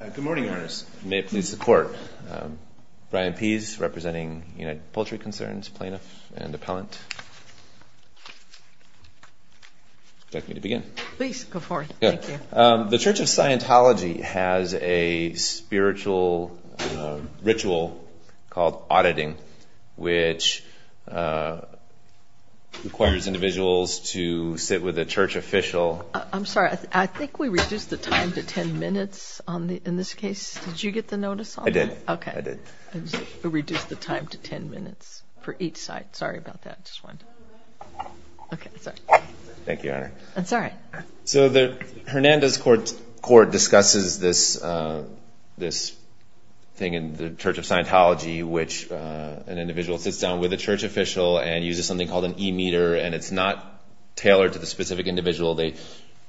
Good morning, Your Honors. May it please the Court. Brian Pease, representing United Poultry Concerns, plaintiff and appellant. Do you want me to begin? Please, go for it. Thank you. The Church of Scientology has a spiritual ritual called auditing, which requires individuals to sit with a church official. I'm sorry. I think we reduced the time to 10 minutes in this case. Did you get the notice on that? I did. I did. OK. We reduced the time to 10 minutes for each side. Sorry about that. I just wanted to. OK, sorry. Thank you, Honor. That's all right. So Hernandez Court discusses this thing in the Church of Scientology, which an individual sits down with a church official and uses something called an e-meter. And it's not tailored to the specific individual. They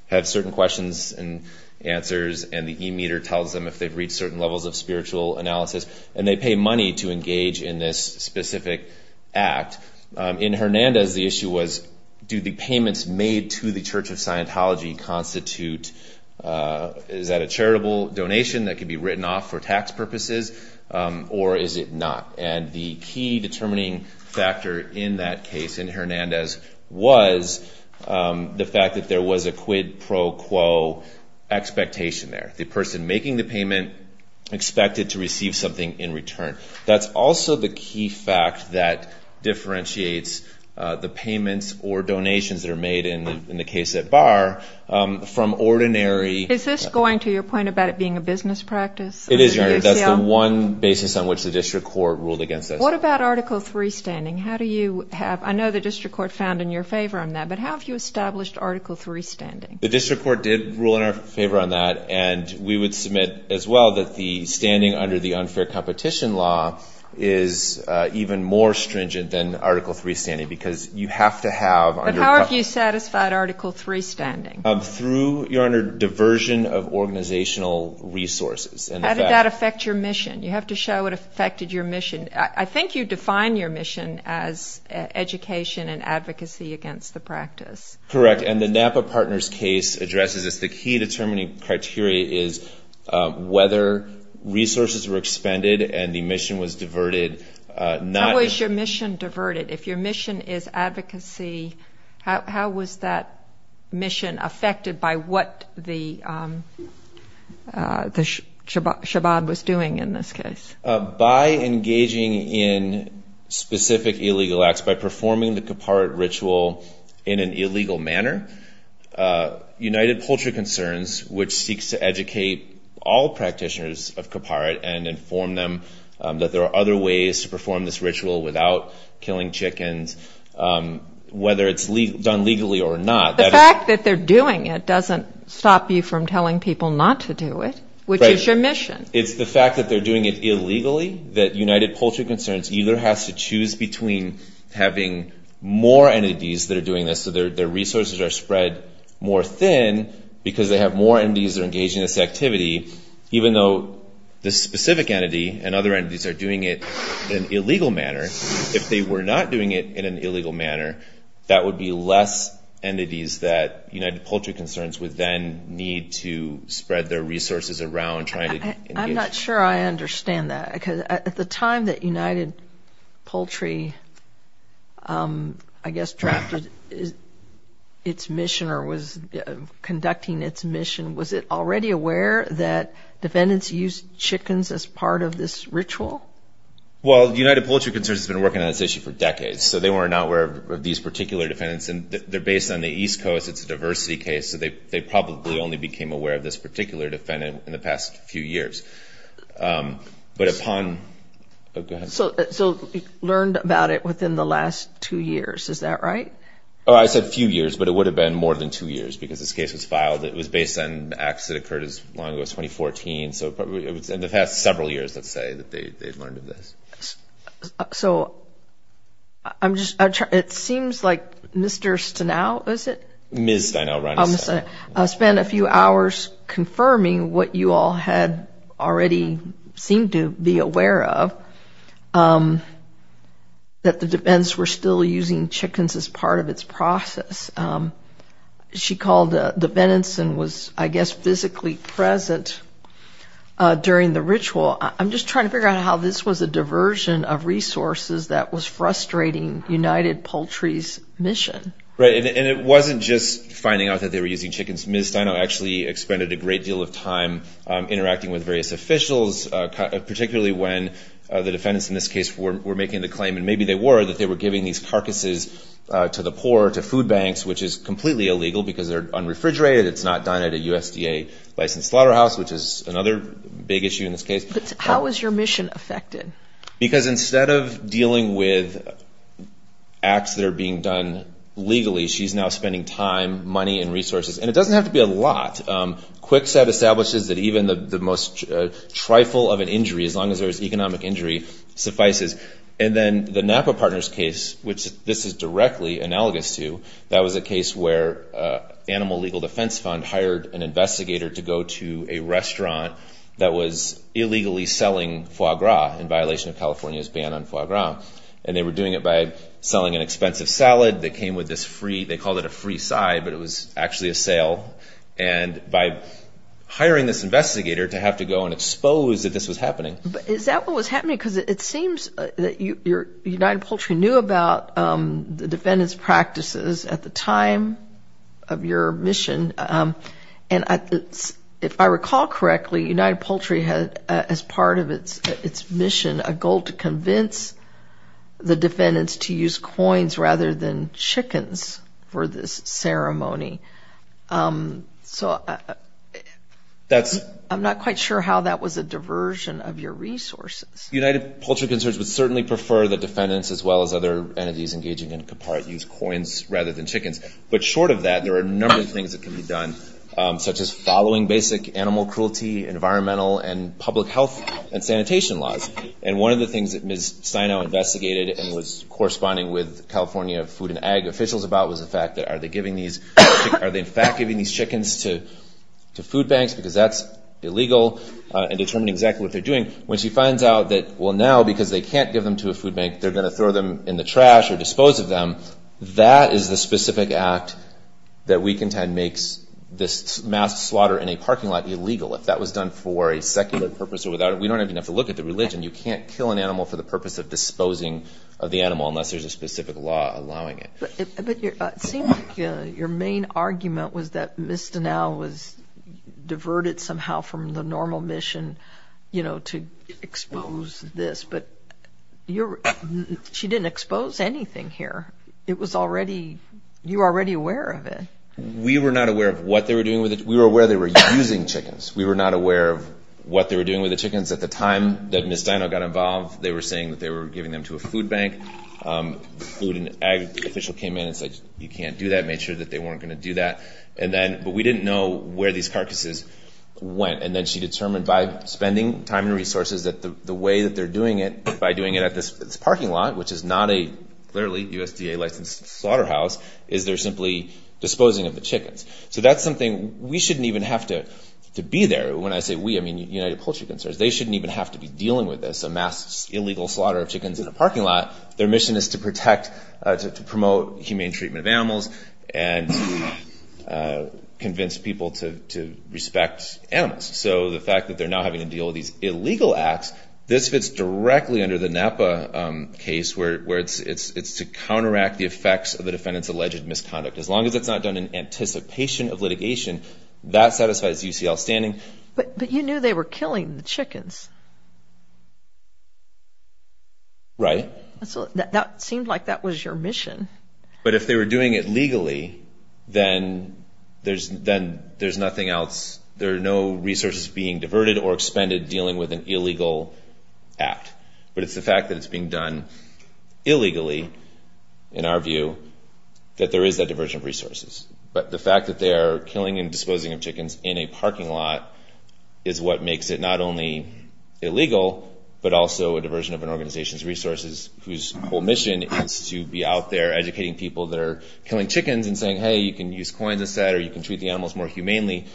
have certain questions and answers. And the e-meter tells them if they've reached certain levels of spiritual analysis. And they pay money to engage in this specific act. In Hernandez, the issue was, do the payments made to the Church of Scientology constitute, is that a charitable donation that could be written off for tax purposes, or is it not? And the key determining factor in that case in Hernandez was the fact that there was a quid pro quo expectation there. The person making the payment expected to receive something in return. That's also the key fact that differentiates the payments or donations that are made in the case at Bar from ordinary. Is this going to your point about it being a business practice? It is, Your Honor. That's the one basis on which the district court ruled against us. What about Article III standing? How do you have? I know the district court found in your favor on that. But how have you established Article III standing? The district court did rule in our favor on that. And we would submit as well that the standing under the unfair competition law is even more stringent than Article III standing. Because you have to have under a couple of. But how have you satisfied Article III standing? Through, Your Honor, diversion of organizational resources. And the fact. How did that affect your mission? You have to show what affected your mission. I think you define your mission as education and advocacy against the practice. Correct. And the Napa Partners case addresses this. The key determining criteria is whether resources were expended and the mission was diverted. How was your mission diverted? If your mission is advocacy, how was that mission affected by what the Shabbat was doing in this case? By engaging in specific illegal acts, by performing the Kippurit ritual in an illegal manner, United Poultry Concerns, which seeks to educate all practitioners of Kippurit and inform them that there are other ways to perform this ritual without killing chickens, whether it's done legally or not. The fact that they're doing it doesn't stop you from telling people not to do it, which is your mission. It's the fact that they're doing it illegally that United Poultry Concerns either has to choose between having more entities that are doing this so their resources are spread more thin because they have more entities that are engaging in this activity, even though this specific entity and other entities are doing it in an illegal manner. If they were not doing it in an illegal manner, that would be less entities that United Poultry Concerns would then need to spread their resources around trying I'm not sure I understand that. Because at the time that United Poultry, I guess, drafted its mission or was conducting its mission, was it already aware that defendants used chickens as part of this ritual? Well, United Poultry Concerns has been working on this issue for decades. So they were not aware of these particular defendants. And they're based on the East Coast. It's a diversity case. So they probably only became aware of this particular defendant in the past few years. But upon, go ahead. So learned about it within the last two years. Is that right? Oh, I said few years. But it would have been more than two years because this case was filed. It was based on acts that occurred as long ago as 2014. So it was in the past several years, let's say, that they'd learned of this. Ms. Stenow, Ronny Stenow. Spent a few hours confirming what you all had already seemed to be aware of, that the defendants were still using chickens as part of its process. She called defendants and was, I guess, physically present during the ritual. I'm just trying to figure out how this was a diversion of resources that was frustrating United Poultry's mission. Right, and it wasn't just finding out that they were using chickens. Ms. Stenow actually expended a great deal of time interacting with various officials, particularly when the defendants in this case were making the claim, and maybe they were, that they were giving these carcasses to the poor, to food banks, which is completely illegal because they're unrefrigerated. It's not done at a USDA licensed slaughterhouse, which is another big issue in this case. How was your mission affected? Because instead of dealing with acts that are being done legally, she's now spending time, money, and resources. And it doesn't have to be a lot. Kwikset establishes that even the most trifle of an injury, as long as there is economic injury, suffices. And then the Napa Partners case, which this is directly analogous to, that was a case where Animal Legal Defense Fund hired an investigator to go to a restaurant that was illegally selling foie gras in violation of California's ban on foie gras. And they were doing it by selling an expensive salad. They came with this free, they called it, a free side, but it was actually a sale. And by hiring this investigator to have to go and expose that this was happening. Is that what was happening? Because it seems that United Poultry knew about the defendant's practices at the time of your mission. And if I recall correctly, United Poultry had, as part of its mission, a goal to convince the defendants to use coins rather than chickens for this ceremony. So I'm not quite sure how that was a diversion of your resources. United Poultry Concerns would certainly prefer that defendants, as well as other entities engaging in copart, use coins rather than chickens. But short of that, there are a number of things that can be done, such as following basic animal cruelty, environmental, and public health and sanitation laws. And one of the things that Ms. Steinow investigated and was corresponding with California Food and Ag officials about was the fact that, are they, in fact, giving these chickens to food banks because that's illegal, and determining exactly what they're doing? When she finds out that, well, now, because they can't give them to a food bank, they're going to throw them in the trash or dispose of them, that is the specific act that we contend makes this mass slaughter in a parking lot illegal. If that was done for a secular purpose or without it, we don't even have to look at the religion. You can't kill an animal for the purpose of disposing of the animal unless there's a specific law allowing it. It seemed like your main argument was that Ms. Steinow was diverted somehow from the normal mission to expose this. But she didn't expose anything here. It was already, you were already aware of it. We were not aware of what they were doing with it. We were aware they were using chickens. We were not aware of what they were doing with the chickens. At the time that Ms. Steinow got involved, they were saying that they were giving them to a food bank. Food and ag official came in and said, you can't do that. Made sure that they weren't going to do that. But we didn't know where these carcasses went. And then she determined by spending time and resources that the way that they're doing it, by doing it at this parking lot, which is not a clearly USDA licensed slaughterhouse, is they're simply disposing of the chickens. So that's something, we shouldn't even have to be there. When I say we, I mean United Poultry Conservancy. They shouldn't even have to be dealing with this, a mass illegal slaughter of chickens in a parking lot. Their mission is to protect, to promote humane treatment of animals, and convince people to respect animals. So the fact that they're not having to deal with these illegal acts, this fits directly under the Napa case, where it's to counteract the effects of the defendant's alleged misconduct. As long as it's not done in anticipation of litigation, that satisfies UCL standing. But you knew they were killing the chickens. Right. So that seemed like that was your mission. But if they were doing it legally, then there's nothing else. There are no resources being diverted or expended dealing with an illegal act. But it's the fact that it's being done illegally, in our view, that there is that diversion of resources. But the fact that they are killing and disposing of chickens in a parking lot is what makes it not only illegal, but also a diversion of an organization's resources, whose whole mission is to be out there educating people that are killing chickens and saying, hey, you can use coins instead, or you can treat the animals more humanely,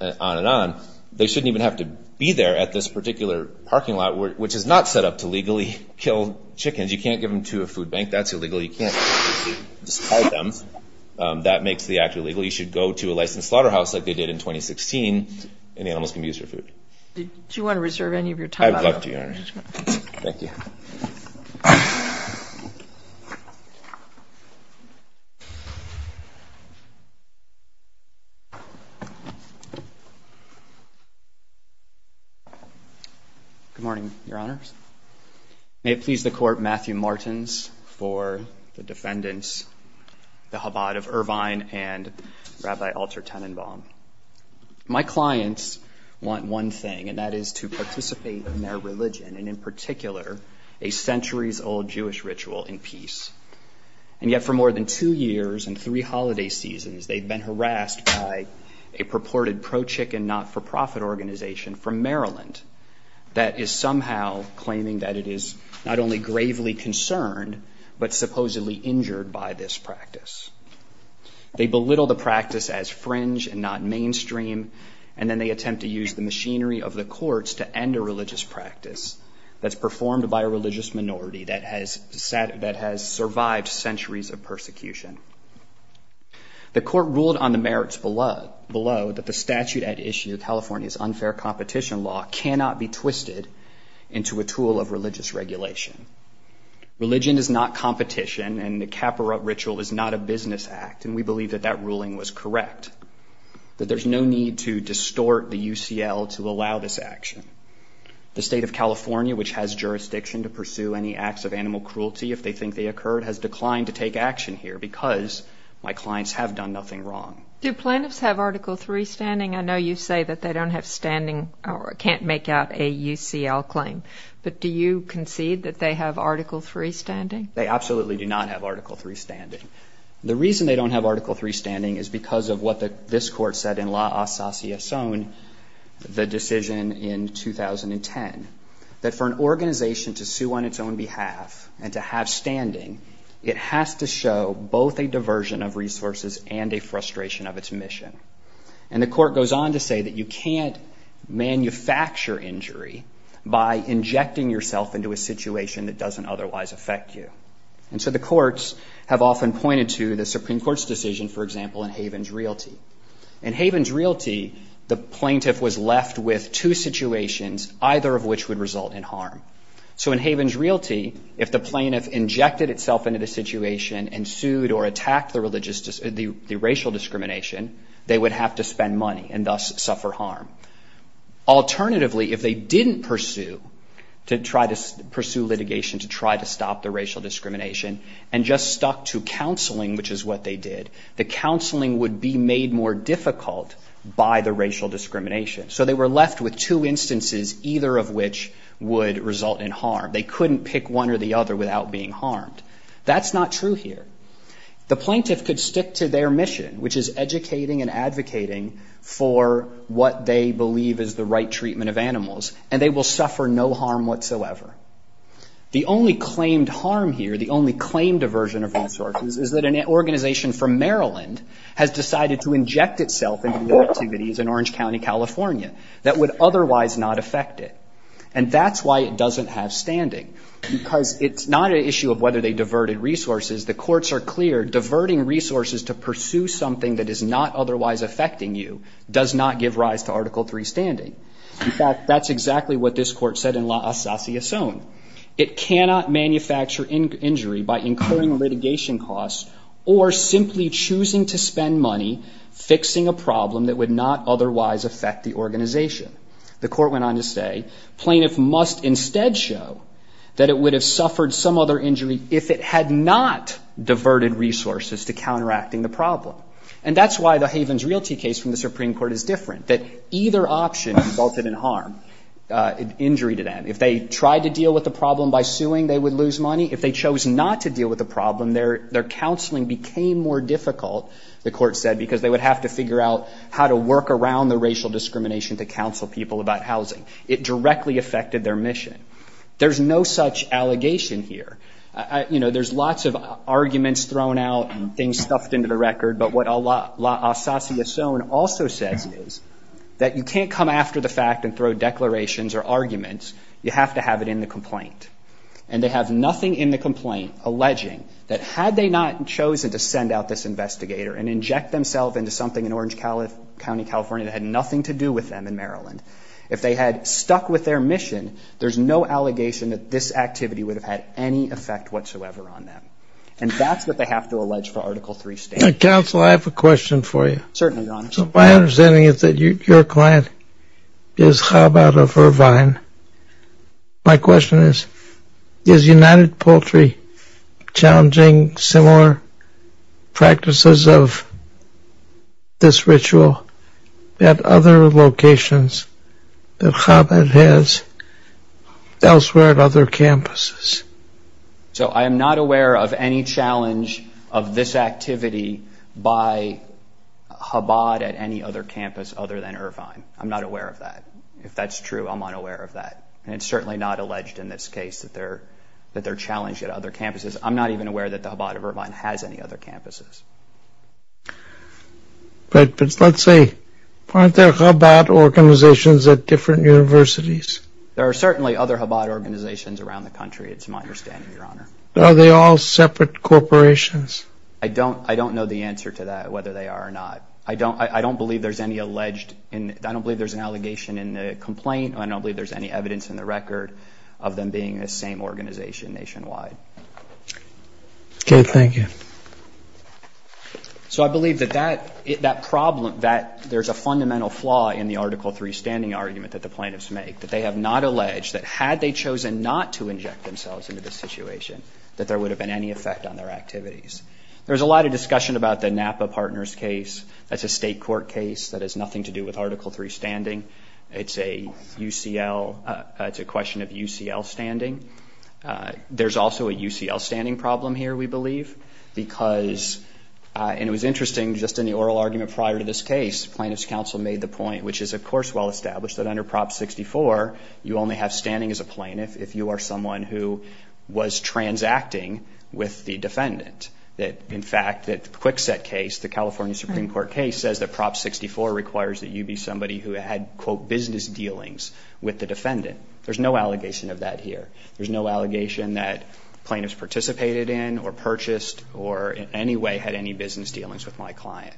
and on and on. They shouldn't even have to be there at this particular parking lot, which is not set up to legally kill chickens. You can't give them to a food bank. That's illegal. You can't just hide them. That makes the act illegal. You should go to a licensed slaughterhouse like they did in 2016, and the animals can be used for food. Do you want to reserve any of your time? I would love to, Your Honor. Thank you. Good morning, Your Honors. May it please the Court, Matthew Martins for the defendants, the Chabad of Irvine and Rabbi Alter Tenenbaum. My clients want one thing, and that is to participate in their religion, and in particular, a centuries-old Jewish ritual in peace. And yet for more than two years and three holiday seasons, they've been harassed by a purported pro-chicken, not-for-profit organization from Maryland that is somehow claiming that it is not only gravely concerned, but supposedly injured by this practice. They belittle the practice as fringe and not mainstream, and then they attempt to use the machinery of the courts to end a religious practice that's performed by a religious minority that has survived centuries of persecution. The Court ruled on the merits below that the statute at issue, California's unfair competition law, cannot be twisted into a tool of religious regulation. Religion is not competition, and the kappa rite ritual is not a business act, and we believe that that ruling was correct, that there's no need to distort the UCL to allow this action. The state of California, which has jurisdiction to pursue any acts of animal cruelty if they think they occurred, has declined to take action here, because my clients have done nothing wrong. Do plaintiffs have Article III standing? I know you say that they don't have standing or can't make out a UCL claim, but do you concede that they have Article III standing? They absolutely do not have Article III standing. The reason they don't have Article III standing is because of what this court said in La Asasiason, the decision in 2010, that for an organization to sue on its own behalf and to have standing, it has to show both a diversion of resources and a frustration of its mission. And the court goes on to say that you can't manufacture injury by injecting yourself into a situation that doesn't otherwise affect you. And so the courts have often pointed to the Supreme Court's decision, for example, in Havens Realty. In Havens Realty, the plaintiff was left with two situations, either of which would result in harm. So in Havens Realty, if the plaintiff injected itself into the situation and sued or attacked the racial discrimination, they would have to spend money and thus suffer harm. Alternatively, if they didn't pursue litigation to try to stop the racial discrimination and just stuck to counseling, which is what they did, the counseling would be made more difficult by the racial discrimination. So they were left with two instances, either of which would result in harm. They couldn't pick one or the other without being harmed. That's not true here. The plaintiff could stick to their mission, which is educating and advocating for what they believe is the right treatment of animals, and they will suffer no harm whatsoever. The only claimed harm here, the only claimed diversion of resources, is that an organization from Maryland has decided to inject itself into the activities in Orange County, California, that would otherwise not affect it. And that's why it doesn't have standing, because it's not an issue of whether they diverted resources. The courts are clear, diverting resources to pursue something that is not otherwise affecting you does not give rise to Article III standing. In fact, that's exactly what this court said in La Asasiason. It cannot manufacture injury by incurring litigation costs or simply choosing to spend money fixing a problem that would not otherwise affect the organization. The court went on to say, plaintiff must instead show that it would have suffered some other injury if it had not diverted resources to counteracting the problem. And that's why the Havens Realty case from the Supreme Court, another option resulted in harm, injury to them. If they tried to deal with the problem by suing, they would lose money. If they chose not to deal with the problem, their counseling became more difficult, the court said, because they would have to figure out how to work around the racial discrimination to counsel people about housing. It directly affected their mission. There's no such allegation here. There's lots of arguments thrown out and things stuffed into the record. But what La Asasiason also says is that you can't come after the fact and throw declarations or arguments. You have to have it in the complaint. And they have nothing in the complaint alleging that had they not chosen to send out this investigator and inject themselves into something in Orange County, California that had nothing to do with them in Maryland, if they had stuck with their mission, there's no allegation that this activity would have had any effect whatsoever on them. And that's what they have to allege for Article 3 states. Counsel, I have a question for you. Certainly, Your Honor. So my understanding is that your client is Chabad of Irvine. My question is, is United Poultry challenging similar practices of this ritual at other locations that Chabad has elsewhere at other campuses? So I am not aware of any challenge of this activity by Chabad at any other campus other than Irvine. I'm not aware of that. If that's true, I'm unaware of that. And it's certainly not alleged in this case that they're challenged at other campuses. I'm not even aware that the Chabad of Irvine has any other campuses. But let's say, aren't there Chabad organizations at different universities? There are certainly other Chabad organizations around the country. It's my understanding, Your Honor. Are they all separate corporations? I don't know the answer to that, whether they are or not. I don't believe there's any alleged in it. I don't believe there's an allegation in the complaint. I don't believe there's any evidence in the record of them being the same organization nationwide. OK, thank you. So I believe that there's a fundamental flaw in the Article 3 standing argument that the plaintiffs make, that they have not alleged that had they chosen not to inject themselves into the situation, that there would have been any effect on their activities. There's a lot of discussion about the Napa Partners case. That's a state court case that has nothing to do with Article 3 standing. It's a UCL, it's a question of UCL standing. There's also a UCL standing problem here, we believe. Because, and it was interesting, just in the oral argument prior to this case, plaintiffs counsel made the point, which is, of course, well established that under Prop 64, you only have standing as a plaintiff if you are someone who was transacting with the defendant. That, in fact, that the Kwikset case, the California Supreme Court case, says that Prop 64 requires that you be somebody who had, quote, business dealings with the defendant. There's no allegation of that here. There's no allegation that plaintiffs participated in, or purchased, or in any way had any business dealings with my client.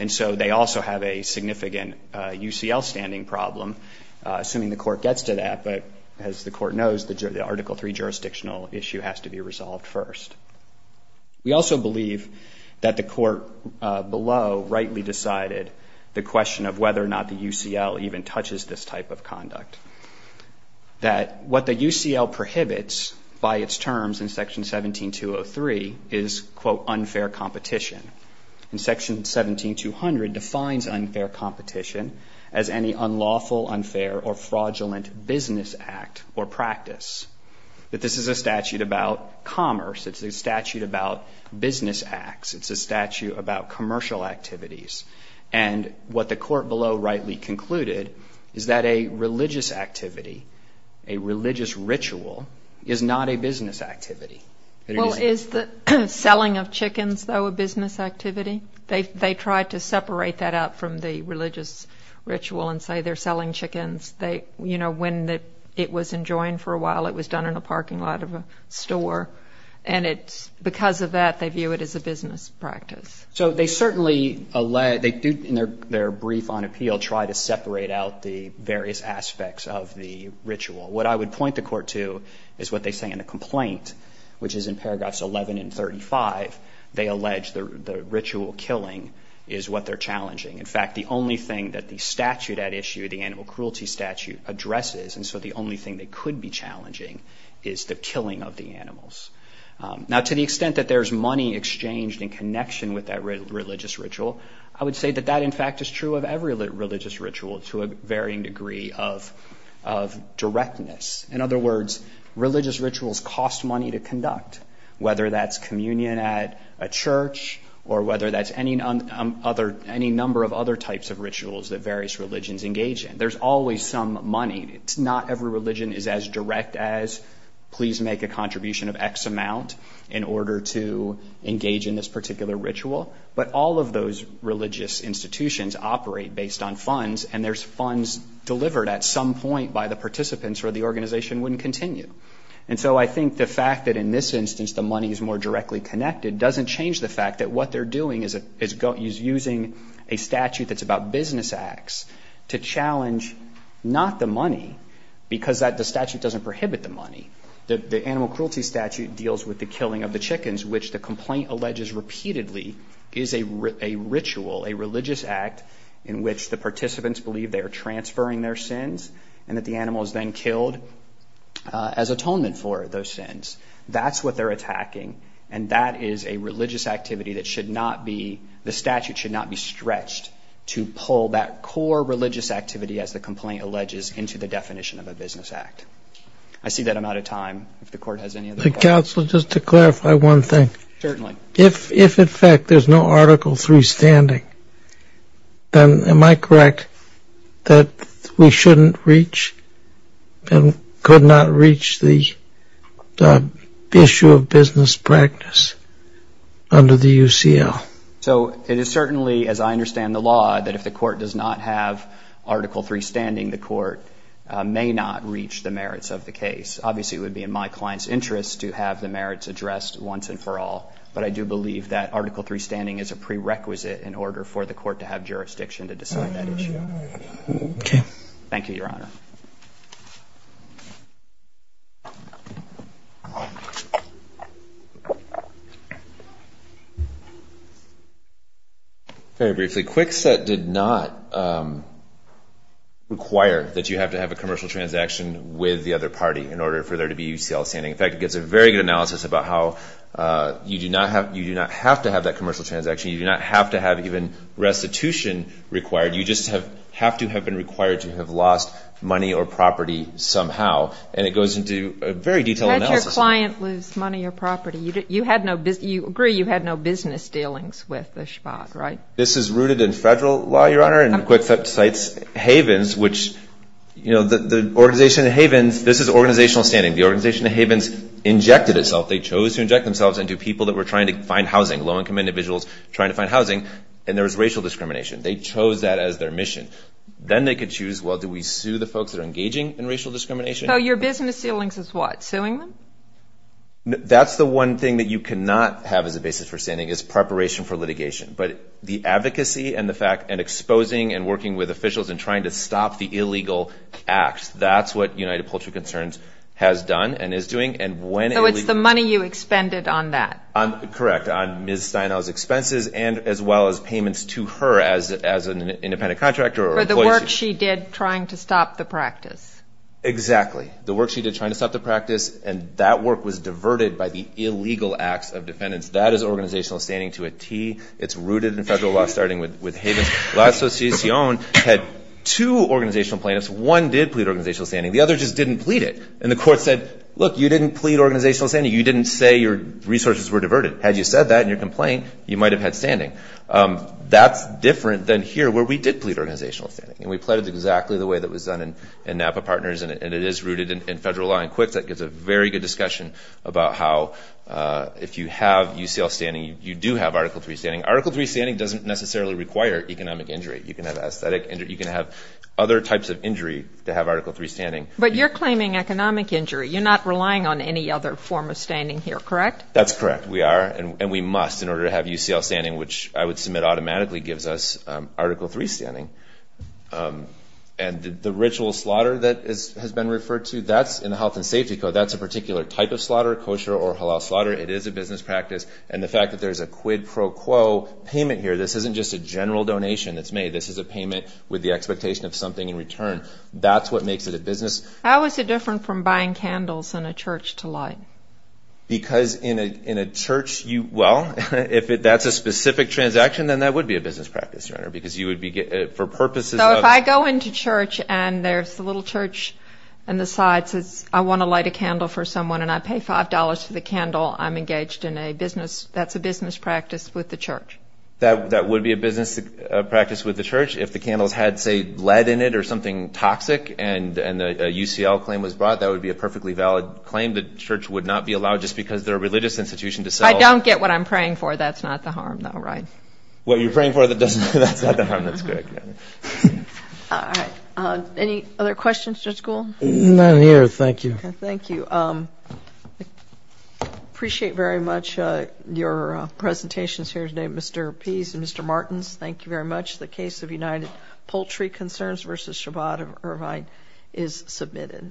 And so they also have a significant UCL standing problem, assuming the court gets to that. But as the court knows, the Article 3 jurisdictional issue has to be resolved first. We also believe that the court below rightly decided the question of whether or not the UCL even touches this type of conduct. That what the UCL prohibits by its terms in Section 17203 is, quote, unfair competition. And Section 17200 defines unfair competition as any unlawful, unfair, or fraudulent business act or practice. That this is a statute about commerce. It's a statute about business acts. It's a statute about commercial activities. And what the court below rightly concluded is that a religious activity, a religious ritual, is not a business activity. Well, is the selling of chickens, though, a business activity? They tried to separate that out from the religious ritual and say they're selling chickens. When it was enjoined for a while, it was done in a parking lot of a store. And because of that, they view it as a business practice. So they certainly do, in their brief on appeal, try to separate out the various aspects of the ritual. What I would point the court to is what they say in the complaint, which is in paragraphs 11 and 35. They allege the ritual killing is what they're challenging. In fact, the only thing that the statute at issue, the animal cruelty statute, addresses, and so the only thing that could be challenging, is the killing of the animals. Now, to the extent that there's money exchanged in connection with that religious ritual, I would say that that, in fact, is true of every religious ritual to a varying degree of directness. In other words, religious rituals cost money to conduct. Whether that's communion at a church, or whether that's any number of other types of rituals that various religions engage in, there's always some money. Not every religion is as direct as, please make a contribution of x amount in order to engage in this particular ritual. But all of those religious institutions operate based on funds, and there's funds delivered at some point by the participants or the organization wouldn't continue. And so I think the fact that, in this instance, the money is more directly connected doesn't change the fact that what they're doing is using a statute that's about business acts to challenge not the money, because the statute doesn't prohibit the money. The animal cruelty statute deals with the killing of the chickens, which the complaint alleges repeatedly is a ritual, a religious act, in which the participants believe they are transferring their sins, and that the animal is then killed as atonement for those sins. That's what they're attacking, and that is a religious activity that should not be, the statute should not be stretched to pull that core religious activity, as the complaint alleges, into the definition of a business act. I see that I'm out of time. If the court has any other questions. The counsel, just to clarify one thing. Certainly. If, in fact, there's no Article III standing, then am I correct that we shouldn't reach and could not reach the issue of business practice under the UCL? So it is certainly, as I understand the law, that if the court does not have Article III standing, the court may not reach the merits of the case. Obviously, it would be in my client's interest to have the merits addressed once and for all, but I do believe that Article III standing is a prerequisite in order for the court to have jurisdiction to decide that issue. Thank you, Your Honor. Very briefly, Kwikset did not require that you have to have a commercial transaction with the other party in order for there to be UCL standing. In fact, it gives a very good analysis about how you do not have to have that commercial transaction. You do not have to have even restitution required. You just have to have been required to have lost money or property somehow, and it goes into a very detailed analysis. How does your client lose money or property? You agree you had no business dealings with the SHVAC, right? This is rooted in federal law, Your Honor, and Kwikset cites Havens, which the organization Havens, this is organizational standing. The organization Havens injected itself. They chose to inject themselves into people that were trying to find housing, low-income individuals trying to find housing, and there was racial discrimination. They chose that as their mission. Then they could choose, well, do we sue the folks that are engaging in racial discrimination? So your business dealings is what, suing them? That's the one thing that you cannot have as a basis for standing is preparation for litigation. But the advocacy and the fact and exposing and working with officials and trying to stop the illegal acts, that's what United Poultry Concerns has done and is doing. So it's the money you expended on that. Correct, on Ms. Steinall's expenses and as well as payments to her as an independent contractor or employee. For the work she did trying to stop the practice. Exactly. The work she did trying to stop the practice, and that work was diverted by the illegal acts of defendants. That is organizational standing to a T. It's rooted in federal law, starting with Havens. La Asociación had two organizational plaintiffs. One did plead organizational standing. The other just didn't plead it. And the court said, look, you didn't plead organizational standing. You didn't say your resources were diverted. Had you said that in your complaint, you might have had standing. That's different than here, where we did plead organizational standing. And we pleaded exactly the way that was done in Napa Partners, and it is rooted in federal law. And quick, that gives a very good discussion about how if you have UCL standing, you do have Article III standing. Article III standing doesn't necessarily require economic injury. You can have aesthetic injury. You can have other types of injury to have Article III standing. But you're claiming economic injury. You're not relying on any other form of standing here, correct? That's correct. We are, and we must, in order to have UCL standing, which I would submit automatically gives us Article III standing. And the ritual slaughter that has been referred to, that's in the Health and Safety Code, that's a particular type of slaughter, kosher or halal slaughter. It is a business practice. And the fact that there's a quid pro quo payment here, this isn't just a general donation that's made. This is a payment with the expectation of something in return. That's what makes it a business. How is it different from buying candles in a church to light? Because in a church, you, well, if that's a specific transaction, then that would be a business practice, Your Honor, because you would be, for purposes of. So if I go into church, and there's a little church on the side that says, I want to light a candle for someone, and I pay $5 for the candle, I'm engaged in a business, that's a business practice with the church. That would be a business practice with the church if the candles had, say, lead in it or something toxic, and a UCL claim was brought, that would be a perfectly valid claim. The church would not be allowed, just because they're a religious institution, to sell. I don't get what I'm praying for. That's not the harm, though, right? What you're praying for, that's not the harm. That's correct, Your Honor. Any other questions, Judge Gould? None here. Thank you. Thank you. Appreciate very much your presentations here today. Mr. Pease and Mr. Martins, thank you very much. The case of United Poultry Concerns versus Shabbat Irvine is submitted.